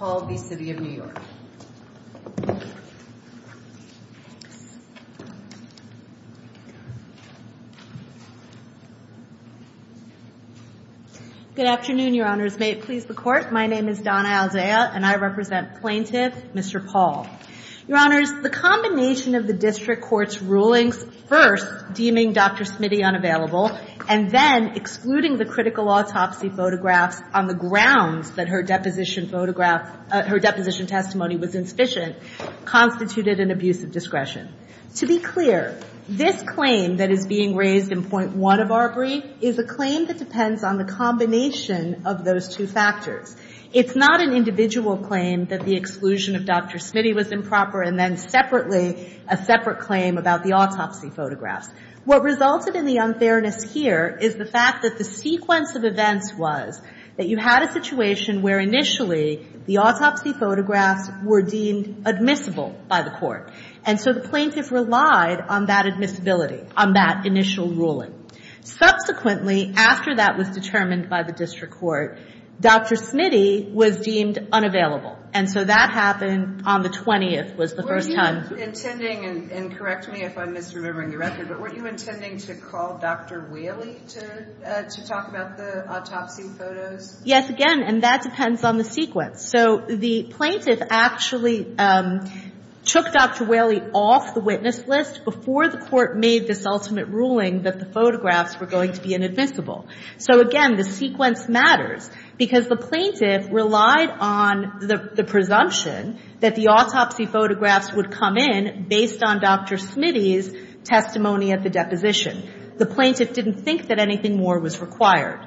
Good afternoon, Your Honors. May it please the Court, my name is Donna Alzea and I represent Plaintiff Mr. Paul. Your Honors, the combination of the District Court's rulings first deeming Dr. Smitty unavailable and then excluding the critical autopsy photographs on the grounds that her deposition testimony was insufficient constituted an abuse of discretion. To be clear, this claim that is being raised in point one of our brief is a claim that depends on the combination of those two factors. It's not an individual claim that the exclusion of Dr. Smitty was improper and then separately a separate claim about the autopsy photographs. What resulted in the unfairness here is the fact that the sequence of events was that you had a situation where initially the autopsy photographs were deemed admissible by the Court. And so the Plaintiff relied on that admissibility, on that initial ruling. Subsequently, after that was determined by the District Court, Dr. Smitty was deemed unavailable. And so that happened on the 20th was the first time Were you intending, and correct me if I'm misremembering the record, but were you intending to call Dr. Whaley to talk about the autopsy photos? Yes, again, and that depends on the sequence. So the Plaintiff actually took Dr. Whaley off the witness list before the Court made this ultimate ruling that the photographs were going to be inadmissible. So again, the sequence matters because the Plaintiff relied on the presumption that the autopsy photographs would come in based on Dr. Smitty's testimony at the deposition. The Plaintiff didn't think that anything more was required.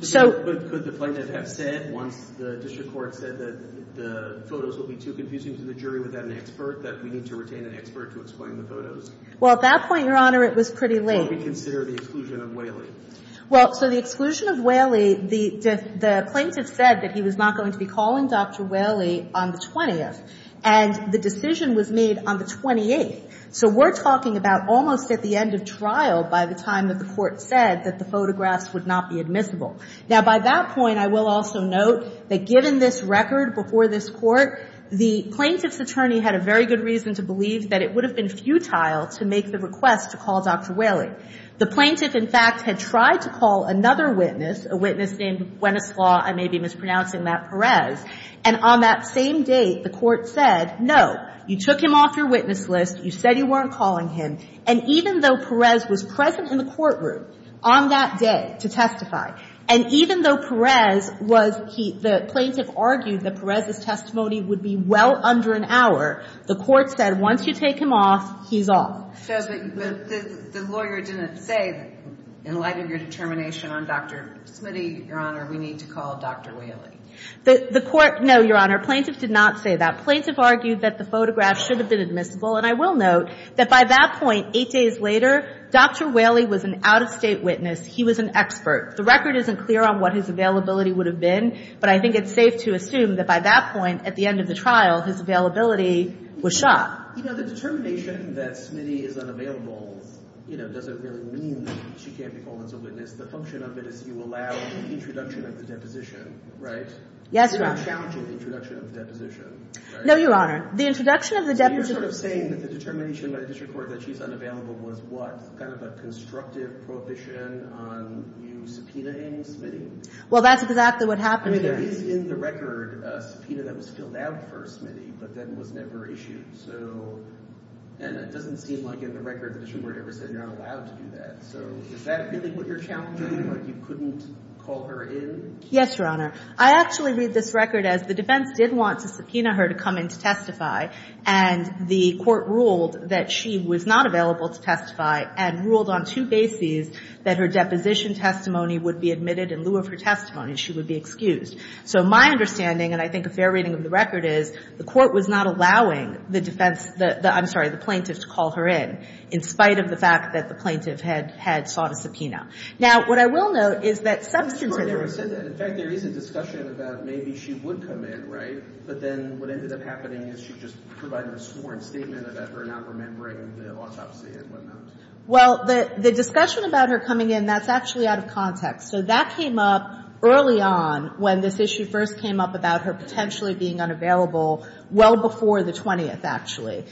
But could the Plaintiff have said, once the District Court said that the photos will be too confusing to the jury without an expert, that we need to retain an expert to explain the photos? Well, at that point, Your Honor, it was pretty late. So would we consider the exclusion of Whaley? Well, so the exclusion of Whaley, the Plaintiff said that he was not going to be calling Dr. Whaley on the 20th. And the decision was made on the 28th. So we're talking about almost at the end of trial by the time that the Court said that the photographs would not be admissible. Now, by that point, I will also note that given this record before this Court, the Plaintiff's attorney had a very good reason to believe that it would have been futile to make the request to call Dr. Whaley. The Plaintiff, in fact, had tried to call another witness, a witness named Buenoslau, I may be mispronouncing that, Perez. And on that same date, the Court said, no, you took him off your witness list, you said you weren't calling him, and even though Perez was present in the courtroom on that day to testify, and even though Perez was he – the Plaintiff argued that Perez's testimony would be well under an hour, the Court said once you take him off, he's off. But the lawyer didn't say in light of your determination on Dr. Smitty, Your Honor, we need to call Dr. Whaley. The Court, no, Your Honor, Plaintiff did not say that. Plaintiff argued that the photograph should have been admissible, and I will note that by that point, eight days later, Dr. Whaley was an out-of-state witness, he was an expert. The record isn't clear on what his availability would have been, but I think it's safe to assume that by that point, at the end of the trial, his availability was shot. You know, the determination that Smitty is unavailable, you know, doesn't really mean she can't be called as a witness. The function of it is you allow the introduction of the deposition, right? Yes, Your Honor. You're challenging the introduction of the deposition, right? No, Your Honor. The introduction of the deposition – So you're sort of saying that the determination by the District Court that she's unavailable was what, kind of a constructive prohibition on you subpoenaing Smitty? Well, that's exactly what happened, Your Honor. There is in the record a subpoena that was filled out for Smitty, but then was never issued, so – and it doesn't seem like in the record the District Court ever said you're not allowed to do that, so is that really what you're challenging? Like you couldn't call her in? Yes, Your Honor. I actually read this record as the defense did want to subpoena her to come in to testify, and the court ruled that she was not available to testify, and ruled on two bases that her deposition testimony would be admitted in lieu of her testimony. She would be excused. So my understanding, and I think a fair reading of the record is, the court was not allowing the defense – I'm sorry, the plaintiff to call her in, in spite of the fact that the plaintiff had sought a subpoena. Now, what I will note is that – The court never said that. In fact, there is a discussion about maybe she would come in, right? But then what ended up happening is she just provided a sworn statement about her not remembering the autopsy and whatnot. Well, the discussion about her coming in, that's actually out of context. So that came up early on when this issue first came up about her potentially being unavailable well before the 20th, actually,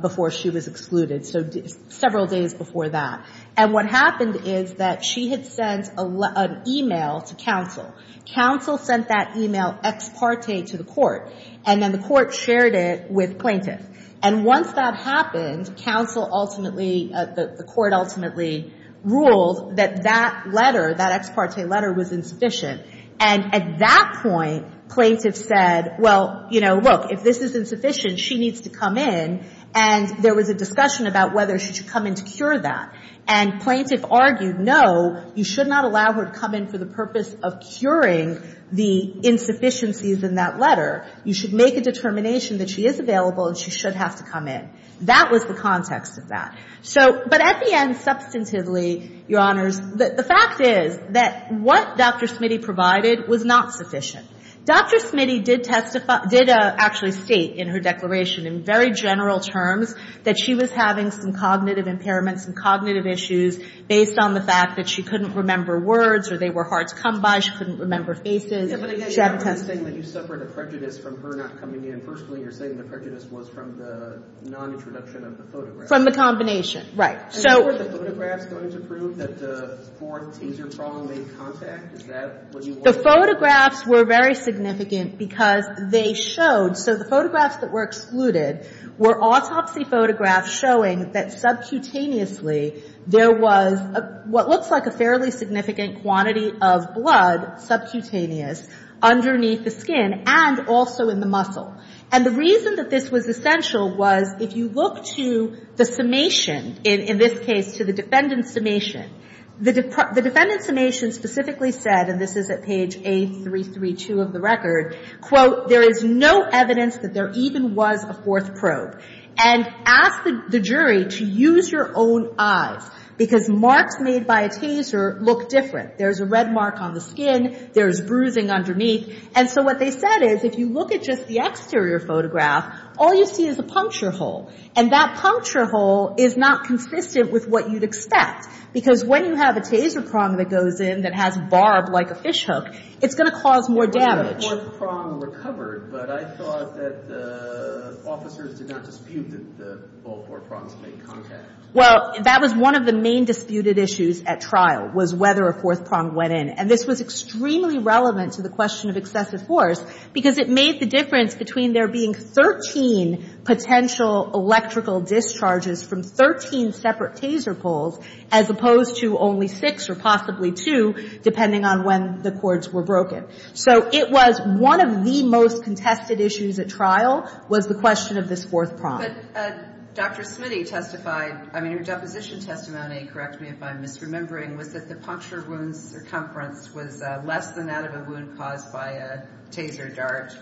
before she was excluded. So several days before that. And what happened is that she had sent an e-mail to counsel. Counsel sent that e-mail ex parte to the court, and then the court shared it with plaintiff. And once that happened, counsel ultimately – the court ultimately ruled that that letter, that ex parte letter was insufficient. And at that point, plaintiff said, well, you know, look, if this is insufficient, she needs to come in. And there was a discussion about whether she should come in to cure that. And plaintiff argued, no, you should not allow her to come in for the purpose of curing the insufficiencies in that letter. You should make a determination that she is available and she should have to come in. That was the context of that. So – but at the end, substantively, Your Honors, the fact is that what Dr. Smitty provided was not sufficient. Dr. Smitty did testify – did actually state in her declaration, in very general terms, that she was having some cognitive impairments and cognitive issues based on the fact that she couldn't remember words or they were hard to come by. She couldn't remember faces. But again, you're not only saying that you suffered a prejudice from her not coming in. Personally, you're saying the prejudice was from the non-introduction of the photograph. From the combination. Right. And were the photographs going to prove that the fourth taser prong made contact? Is that what you wanted to say? The photographs were very significant because they showed – so the photographs that were excluded were autopsy photographs showing that subcutaneously, there was what looks like a fairly significant quantity of blood, subcutaneous, underneath the skin and also in the muscle. And the reason that this was essential was if you look to the summation, in this case, to the defendant's summation, the defendant's summation specifically said, and this is at page A332 of the record, quote, there is no evidence that there even was a fourth probe. And asked the jury to use your own eyes. Because marks made by a taser look different. There's a red mark on the skin. There's bruising underneath. And so what they said is if you look at just the exterior photograph, all you see is a puncture hole. And that puncture hole is not consistent with what you'd expect. Because when you have a taser prong that goes in that has barb like a fish hook, it's going to cause more damage. The fourth prong recovered, but I thought that the officers did not dispute that the four prongs made contact. Well, that was one of the main disputed issues at trial was whether a fourth prong went in. And this was extremely relevant to the question of excessive force because it made the difference between there being 13 potential electrical discharges from 13 separate taser poles as opposed to only six or possibly two depending on when the cords were broken. So it was one of the most contested issues at trial was the question of this fourth prong. But Dr. Smitty testified, I mean her deposition testimony, correct me if I'm misremembering, was that the puncture wound circumference was less than that of a wound caused by a taser dart.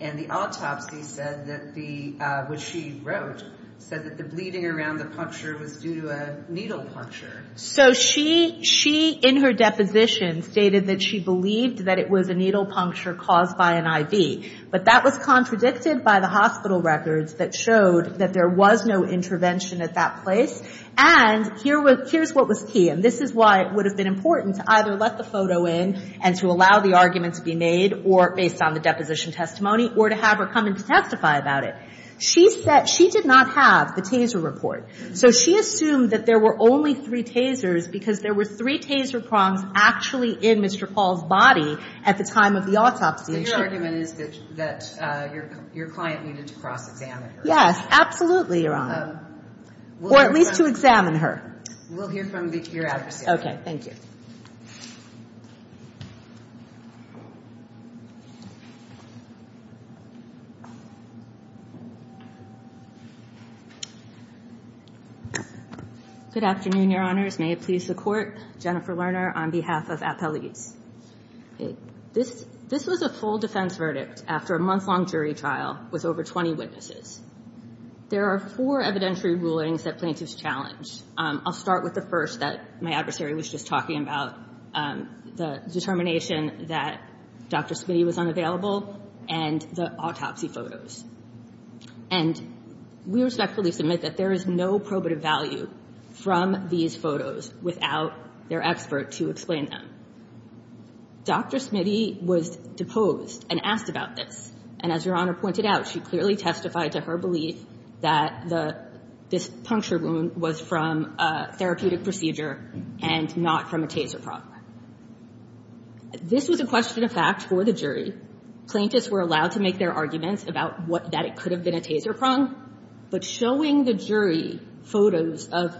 And the autopsy said that the, which she wrote, said that the bleeding around the puncture was due to a needle puncture. So she in her deposition stated that she believed that it was a needle puncture caused by an IV. But that was contradicted by the hospital records that showed that there was no intervention at that place. And here's what was key, and this is why it would have been important to either let the photo in and to allow the argument to be made or based on the deposition testimony or to have her come in to testify about it. She said she did not have the taser report. So she assumed that there were only three tasers because there were three taser prongs actually in Mr. Paul's body at the time of the autopsy. So your argument is that your client needed to cross-examine her? Yes, absolutely, Your Honor. Or at least to examine her. We'll hear from your adversary. Okay. Thank you. Good afternoon, Your Honors. May it please the Court. Jennifer Lerner on behalf of Appellees. This was a full defense verdict after a month-long jury trial with over 20 witnesses. There are four evidentiary rulings that plaintiffs challenged. I'll start with the first that my adversary was just talking about, the determination that Dr. Smitty was unavailable and the autopsy photos. And we respectfully submit that there is no probative value from these photos without their expert to explain them. Dr. Smitty was deposed and asked about this. And as Your Honor pointed out, she clearly testified to her belief that this puncture wound was from a therapeutic procedure and not from a taser prong. This was a question of fact for the jury. Plaintiffs were allowed to make their arguments about that it could have been a taser prong. But showing the jury photos of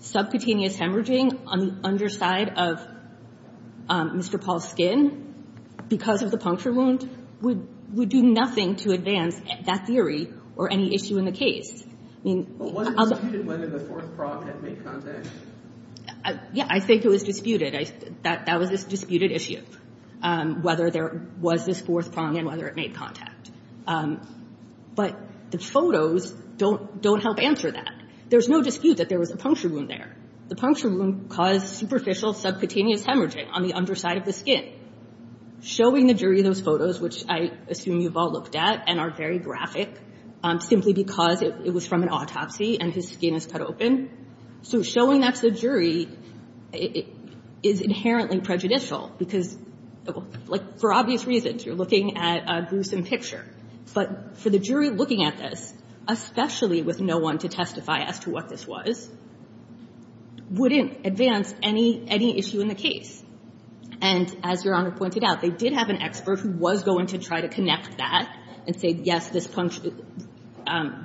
subcutaneous hemorrhaging on the underside of Mr. Paul's skin because of the puncture wound would do nothing to advance that theory or any issue in the case. But wasn't it disputed whether the fourth prong had made contact? Yeah, I think it was disputed. That was a disputed issue, whether there was this fourth prong and whether it made contact. But the photos don't help answer that. There's no dispute that there was a puncture wound there. The puncture wound caused superficial subcutaneous hemorrhaging on the underside of the skin. Showing the jury those photos, which I assume you've all looked at and are very concerned about, was from an autopsy and his skin is cut open. So showing that to the jury is inherently prejudicial because, like, for obvious reasons. You're looking at a gruesome picture. But for the jury looking at this, especially with no one to testify as to what this was, wouldn't advance any issue in the case. And as Your Honor pointed out, they did have an expert who was going to try to connect that and say, yes, this puncture,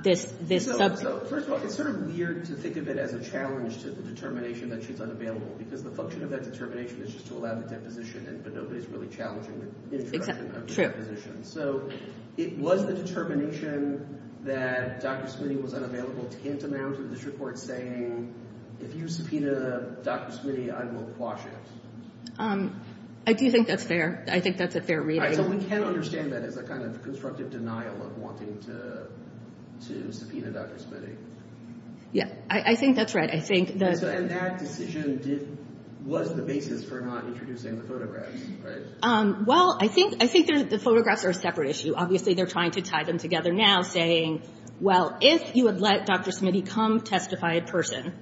this sub... So, first of all, it's sort of weird to think of it as a challenge to the determination that she's unavailable because the function of that determination is just to allow the deposition, but nobody's really challenging the introduction of the deposition. So it was the determination that Dr. Smitty was unavailable tantamount to this report saying, if you subpoena Dr. Smitty, I will quash it. I do think that's fair. I think that's a fair reading. So we can understand that as a kind of constructive denial of wanting to subpoena Dr. Smitty. I think that's right. And that decision was the basis for not introducing the photographs, right? Well, I think the photographs are a separate issue. Obviously, they're trying to tie them together now, saying, well, if you would let Dr. Smitty come testify in person,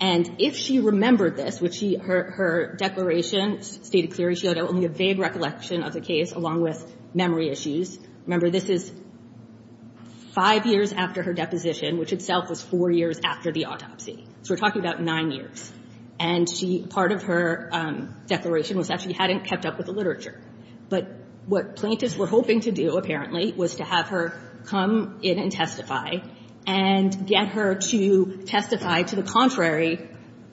and if she remembered this, which her declaration stated clearly she had only a vague recollection of the case, along with memory issues. Remember, this is five years after her deposition, which itself was four years after the autopsy. So we're talking about nine years. And part of her declaration was that she hadn't kept up with the literature. But what plaintiffs were hoping to do, apparently, was to have her come in and testify and get her to testify to the contrary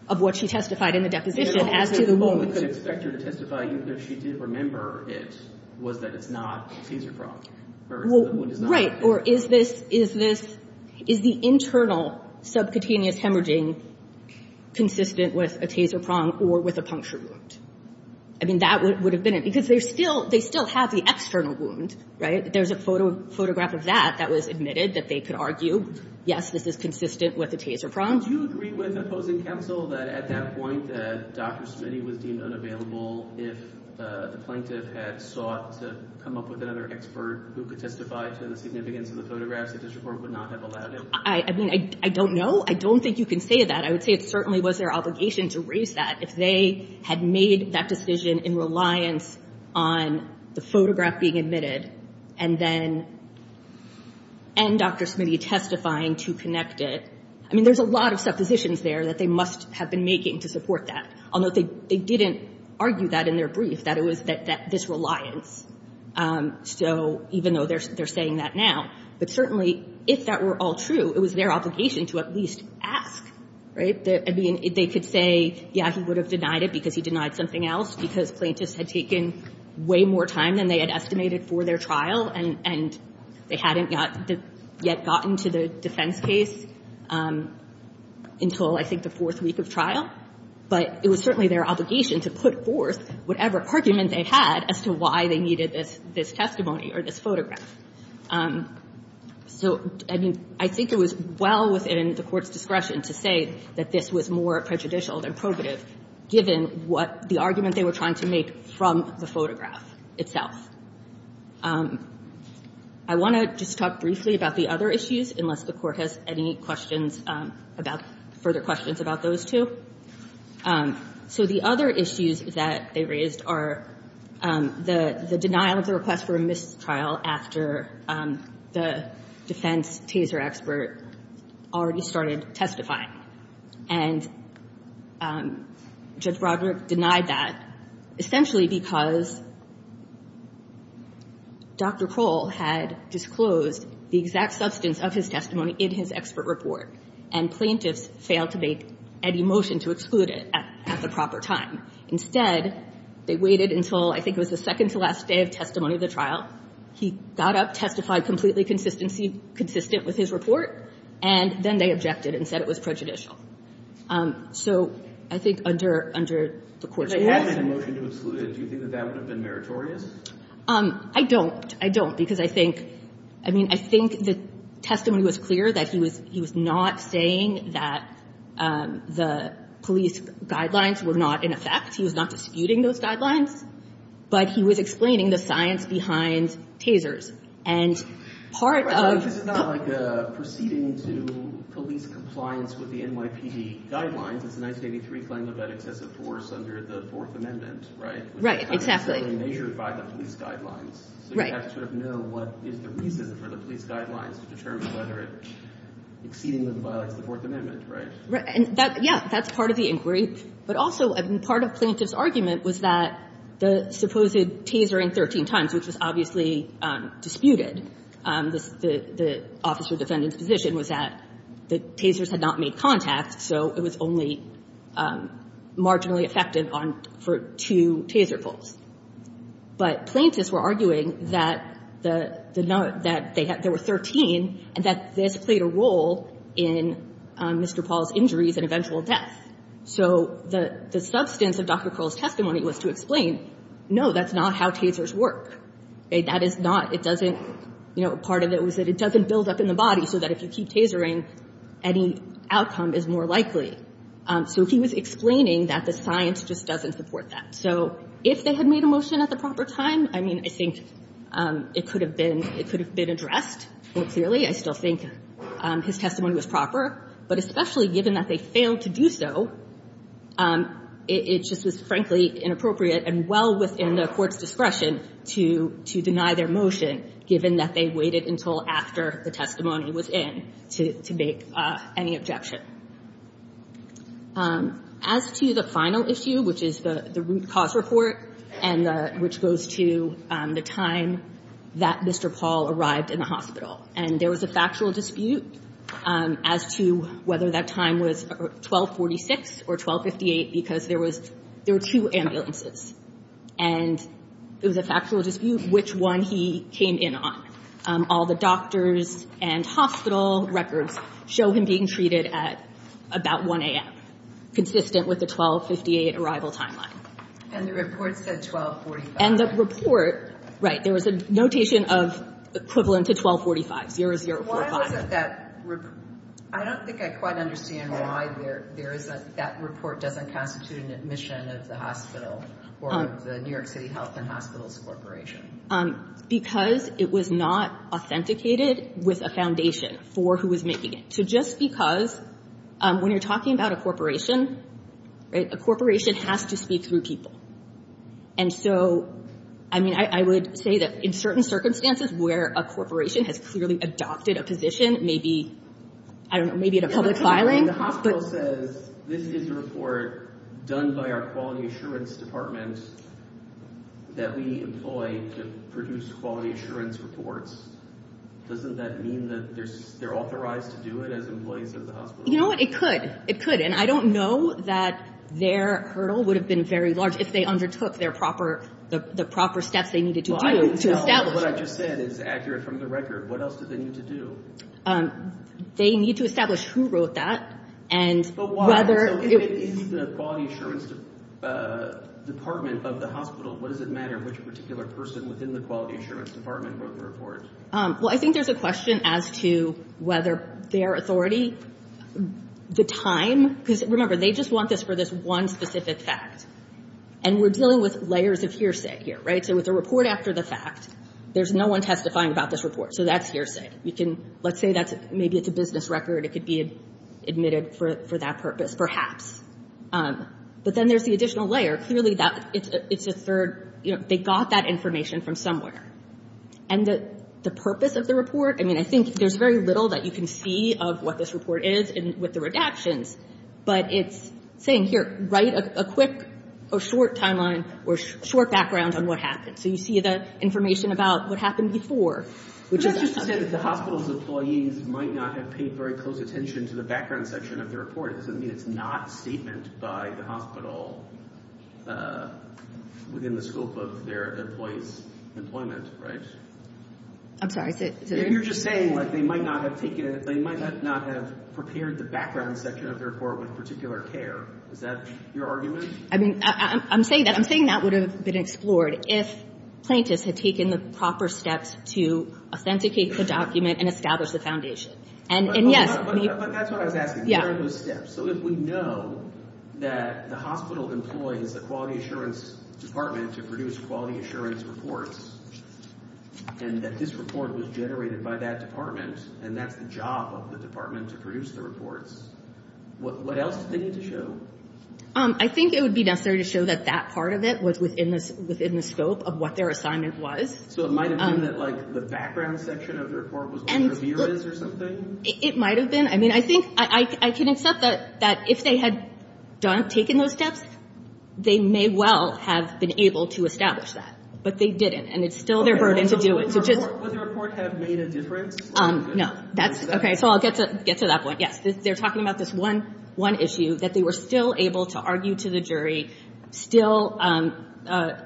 of what she testified in the deposition, as to the wound. But the only way to expect her to testify, even if she did remember it, was that it's not a taser prong, whereas the wound is not. Right. Or is this the internal subcutaneous hemorrhaging consistent with a taser prong or with a puncture wound? I mean, that would have been it. Because they still have the external wound, right? There's a photograph of that that was admitted that they could argue, yes, this is consistent with a taser prong. Would you agree with opposing counsel that at that point that Dr. Smitty was deemed unavailable if the plaintiff had sought to come up with another expert who could testify to the significance of the photographs that this report would not have allowed it? I mean, I don't know. I don't think you can say that. I would say it certainly was their obligation to raise that. If they had made that decision in reliance on the photograph being admitted and then Dr. Smitty testifying to connect it, I mean, there's a lot of suppositions there that they must have been making to support that, although they didn't argue that in their brief, that it was this reliance. So even though they're saying that now, but certainly if that were all true, it was their obligation to at least ask, right? I mean, they could say, yeah, he would have denied it because he denied something else, because plaintiffs had taken way more time than they had estimated for their trial and they hadn't yet gotten to the defense case until, I think, the fourth week of trial. But it was certainly their obligation to put forth whatever argument they had as to why they needed this testimony or this photograph. So, I mean, I think it was well within the Court's discretion to say that this was more prejudicial than probative, given what the argument they were trying to make from the photograph itself. I want to just talk briefly about the other issues, unless the Court has any questions about – further questions about those, too. So the other issues that they raised are the denial of the request for a mistrial after the defense taser expert already started testifying. And Judge Broderick denied that essentially because Dr. Kroll had disclosed the exact substance of his testimony in his expert report, and plaintiffs failed to make any motion to exclude it at the proper time. Instead, they waited until I think it was the second to last day of testimony of the trial. He got up, testified completely consistent with his report, and then they objected and said it was prejudicial. So I think under the Court's discretion – If they had made a motion to exclude it, do you think that that would have been meritorious? I don't. I don't, because I think – I mean, I think the testimony was clear that he was not saying that the police guidelines were not in effect. He was not disputing those guidelines. But he was explaining the science behind tasers. And part of – Right. Exactly. Right. Right. And that – yeah. That's part of the inquiry. But also, part of plaintiff's argument was that the supposed taser in 13 times, which was obviously disputed, the officer defendant's position was that the tasers had been used for the purpose of testing the defendant. So it was only marginally effective on – for two taser pulls. But plaintiffs were arguing that the – that there were 13, and that this played a role in Mr. Paul's injuries and eventual death. So the substance of Dr. Crowell's testimony was to explain, no, that's not how tasers work. That is not – it doesn't – you know, part of it was that it doesn't build up in the body so that if you keep tasering, any outcome is more likely. So he was explaining that the science just doesn't support that. So if they had made a motion at the proper time, I mean, I think it could have been – it could have been addressed more clearly. I still think his testimony was proper. But especially given that they failed to do so, it just was, frankly, inappropriate and well within the court's discretion to deny their motion, given that they waited until after the testimony was in to make any objection. As to the final issue, which is the root cause report and the – which goes to the time that Mr. Paul arrived in the hospital, and there was a factual dispute as to whether that time was 1246 or 1258 because there was – there were two ambulances. And it was a factual dispute which one he came in on. All the doctors and hospital records show him being treated at about 1 a.m., consistent with the 1258 arrival timeline. And the report said 1245. And the report – right, there was a notation of equivalent to 1245, 0045. Why wasn't that – I don't think I quite understand why there isn't – that report doesn't constitute an admission of the hospital or of the New York City Health and Hospitals Corporation. Because it was not authenticated with a foundation for who was making it. So just because – when you're talking about a corporation, right, a corporation has to speak through people. And so, I mean, I would say that in certain circumstances where a corporation has clearly adopted a position, maybe, I don't know, maybe in a public filing. The hospital says this is a report done by our quality assurance department that we employ to produce quality assurance reports. Doesn't that mean that they're authorized to do it as employees of the hospital? You know what, it could. It could. And I don't know that their hurdle would have been very large if they undertook their proper – the proper steps they needed to do to establish it. What I just said is accurate from the record. What else did they need to do? They need to establish who wrote that and whether – But why? So if it is the quality assurance department of the hospital, what does it matter which particular person within the quality assurance department wrote the report? Well, I think there's a question as to whether their authority, the time – because remember, they just want this for this one specific fact. And we're dealing with layers of hearsay here, right? So with a report after the fact, there's no one testifying about this report. So that's hearsay. You can – let's say that's – maybe it's a business record. It could be admitted for that purpose, perhaps. But then there's the additional layer. Clearly, that – it's a third – you know, they got that information from somewhere. And the purpose of the report – I mean, I think there's very little that you can see of what this report is with the redactions, but it's saying, here, write a quick or short timeline or short background on what happened. So you see the information about what happened before, which is – But that's just to say that the hospital's employees might not have paid very close attention to the background section of their report. It doesn't mean it's not a statement by the hospital within the scope of their employees' employment, right? I'm sorry, is it – You're just saying, like, they might not have taken – they might not have prepared the background section of their report with particular care. Is that your argument? I mean, I'm saying that – I'm saying that would have been explored if plaintiffs had taken the proper steps to authenticate the document and establish the foundation. And yes – But that's what I was asking. What are those steps? So if we know that the hospital employs the Quality Assurance Department to produce quality assurance reports, and that this report was generated by that department, and that's the job of the department to produce the reports, what else do they need to show? I think it would be necessary to show that that part of it was within the scope of what their assignment was. So it might have been that, like, the background section of the report was what the review is or something? It might have been. I mean, I think – I can accept that if they had taken those steps, they may well have been able to establish that. But they didn't, and it's still their burden to do it. Would the report have made a difference? No. Okay, so I'll get to that point. Yes, they're talking about this one issue, that they were still able to argue to the jury, still a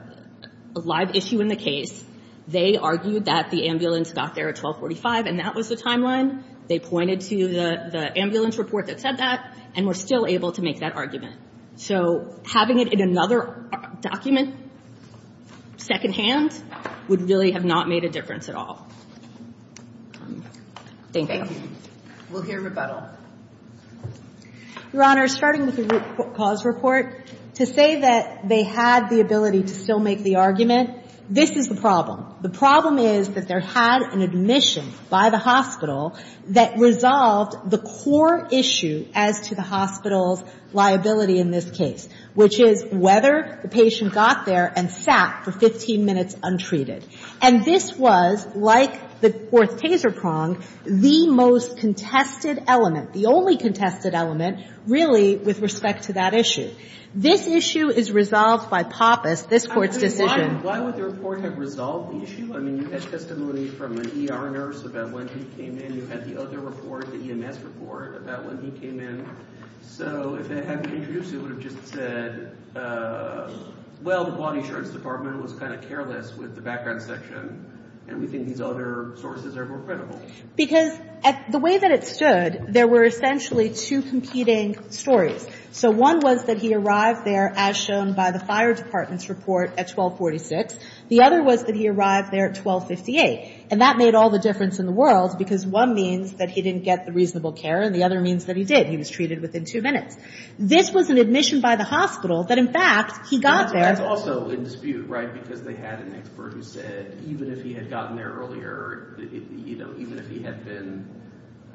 live issue in the case. They argued that the ambulance got there at 1245, and that was the timeline. They pointed to the ambulance report that said that and were still able to make that argument. So having it in another document secondhand would really have not made a difference at all. Thank you. We'll hear rebuttal. Your Honor, starting with the root cause report, to say that they had the ability to still make the argument, this is the problem. The problem is that there had an admission by the hospital that resolved the core issue as to the hospital's liability in this case, which is whether the patient got there and sat for 15 minutes untreated. And this was, like the fourth taser prong, the most contested element, the only contested element, really, with respect to that issue. This issue is resolved by Pappas, this Court's decision. Why would the report have resolved the issue? I mean, you had testimony from an ER nurse about when he came in. You had the other report, the EMS report, about when he came in. So if they hadn't introduced it, it would have just said, well, the bond insurance department was kind of careless with the background section, and we think these other sources are more credible. Because the way that it stood, there were essentially two competing stories. So one was that he arrived there, as shown by the fire department's report, at 1246. The other was that he arrived there at 1258. And that made all the difference in the world, because one means that he didn't get the reasonable care, and the other means that he did. He was treated within two minutes. This was an admission by the hospital that, in fact, he got there. That's also in dispute, right? Because they had an expert who said even if he had gotten there earlier, you know, even if he had been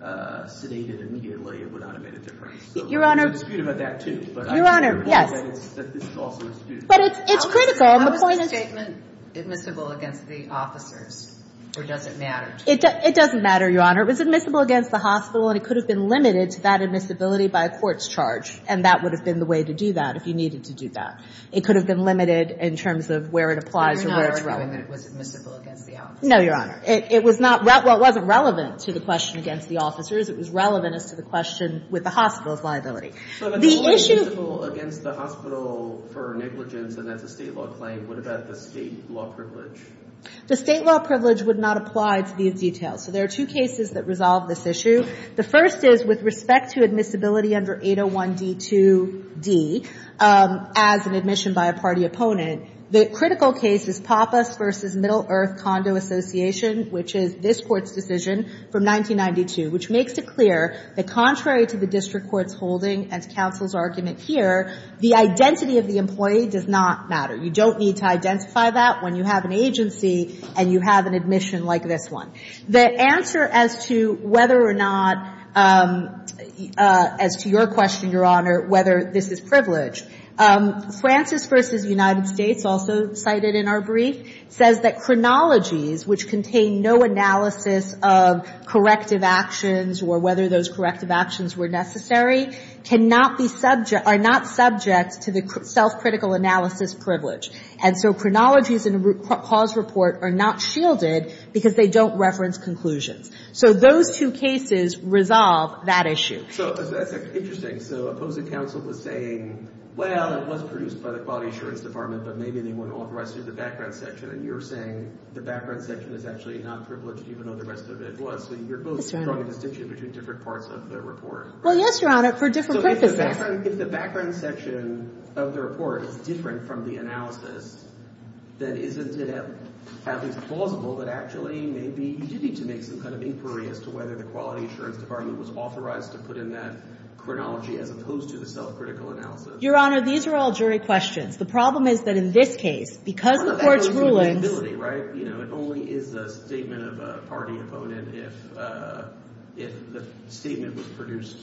sedated immediately, it would not have made a difference. Your Honor. So there's a dispute about that, too. Your Honor, yes. But this is also in dispute. But it's critical. How is the statement admissible against the officers? Or does it matter to you? It doesn't matter, Your Honor. It was admissible against the hospital, and it could have been limited to that admissibility by a court's charge. And that would have been the way to do that, if you needed to do that. It could have been limited in terms of where it applies or where it's relevant. But you're not arguing that it was admissible against the officers? No, Your Honor. It was not – well, it wasn't relevant to the question against the officers. It was relevant as to the question with the hospital's liability. The issue – So if it's always admissible against the hospital for negligence, and that's a State law claim, what about the State law privilege? The State law privilege would not apply to these details. So there are two cases that resolve this issue. The first is with respect to admissibility under 801D2d, as an admission by a party opponent. The critical case is Pappas v. Middle Earth Condo Association, which is this Court's decision from 1992, which makes it clear that contrary to the district court's holding and to counsel's argument here, the identity of the employee does not matter. You don't need to identify that when you have an agency and you have an admission like this one. The answer as to whether or not – as to your question, Your Honor, whether this is privilege. Francis v. United States, also cited in our brief, says that chronologies which contain no analysis of corrective actions or whether those corrective actions were necessary cannot be subject – are not subject to the self-critical analysis privilege. And so chronologies in a root cause report are not shielded because they don't reference conclusions. So those two cases resolve that issue. So that's interesting. So opposing counsel was saying, well, it was produced by the Quality Assurance Department, but maybe they want to authorize through the background section. And you're saying the background section is actually not privileged, even though the rest of it was. So you're both drawing a distinction between different parts of the report. Well, yes, Your Honor, for different purposes. So if the background section of the report is different from the analysis, then isn't it at least plausible that actually maybe you did need to make some kind of inquiry as to whether the Quality Assurance Department was authorized to put in that chronology as opposed to the self-critical analysis? Your Honor, these are all jury questions. The problem is that in this case, because the Court's rulings – It's not a matter of eligibility, right? It only is a statement of a party opponent if the statement was produced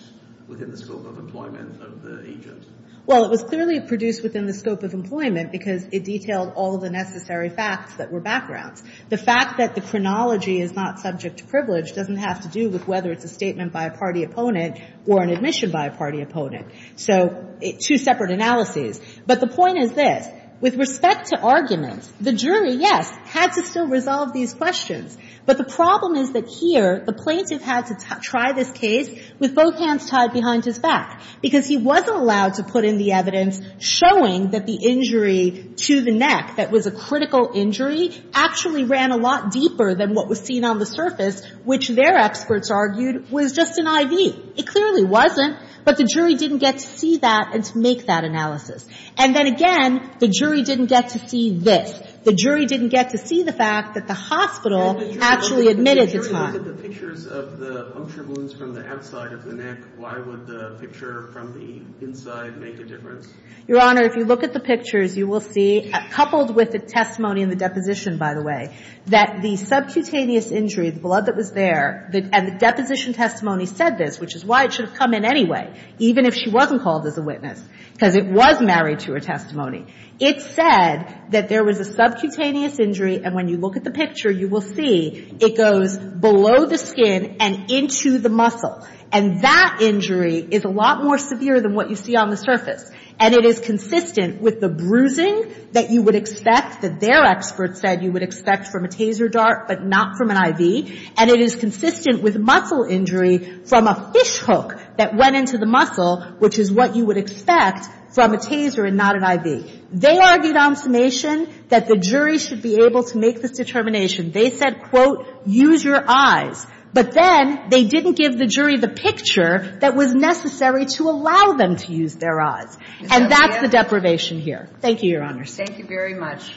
within the scope of employment of the agent. Well, it was clearly produced within the scope of employment because it detailed all the necessary facts that were backgrounds. The fact that the chronology is not subject to privilege doesn't have to do with whether it's a statement by a party opponent or an admission by a party opponent. So two separate analyses. But the point is this. With respect to arguments, the jury, yes, had to still resolve these questions. But the problem is that here, the plaintiff had to try this case with both hands tied behind his back because he wasn't allowed to put in the evidence showing that the injury to the neck that was a critical injury actually ran a lot deeper than what was seen on the surface, which their experts argued was just an IV. It clearly wasn't. But the jury didn't get to see that and to make that analysis. And then again, the jury didn't get to see this. The jury didn't get to see the fact that the hospital actually admitted his harm. If the jury looked at the pictures of the puncture wounds from the outside of the neck, why would the picture from the inside make a difference? Your Honor, if you look at the pictures, you will see, coupled with the testimony in the deposition, by the way, that the subcutaneous injury, the blood that was there, and the deposition testimony said this, which is why it should have come in anyway, even if she wasn't called as a witness, because it was married to her testimony. It said that there was a subcutaneous injury, and when you look at the picture, you will see it goes below the skin and into the muscle. And that injury is a lot more severe than what you see on the surface. And it is consistent with the bruising that you would expect, that their experts said you would expect from a taser dart but not from an IV. And it is consistent with muscle injury from a fish hook that went into the muscle, which is what you would expect from a taser and not an IV. They argued on summation that the jury should be able to make this determination. They said, quote, use your eyes. But then they didn't give the jury the picture that was necessary to allow them to use their eyes. And that's the deprivation here. Thank you, Your Honors. Thank you very much.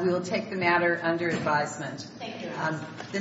We will take the matter under advisement. Thank you.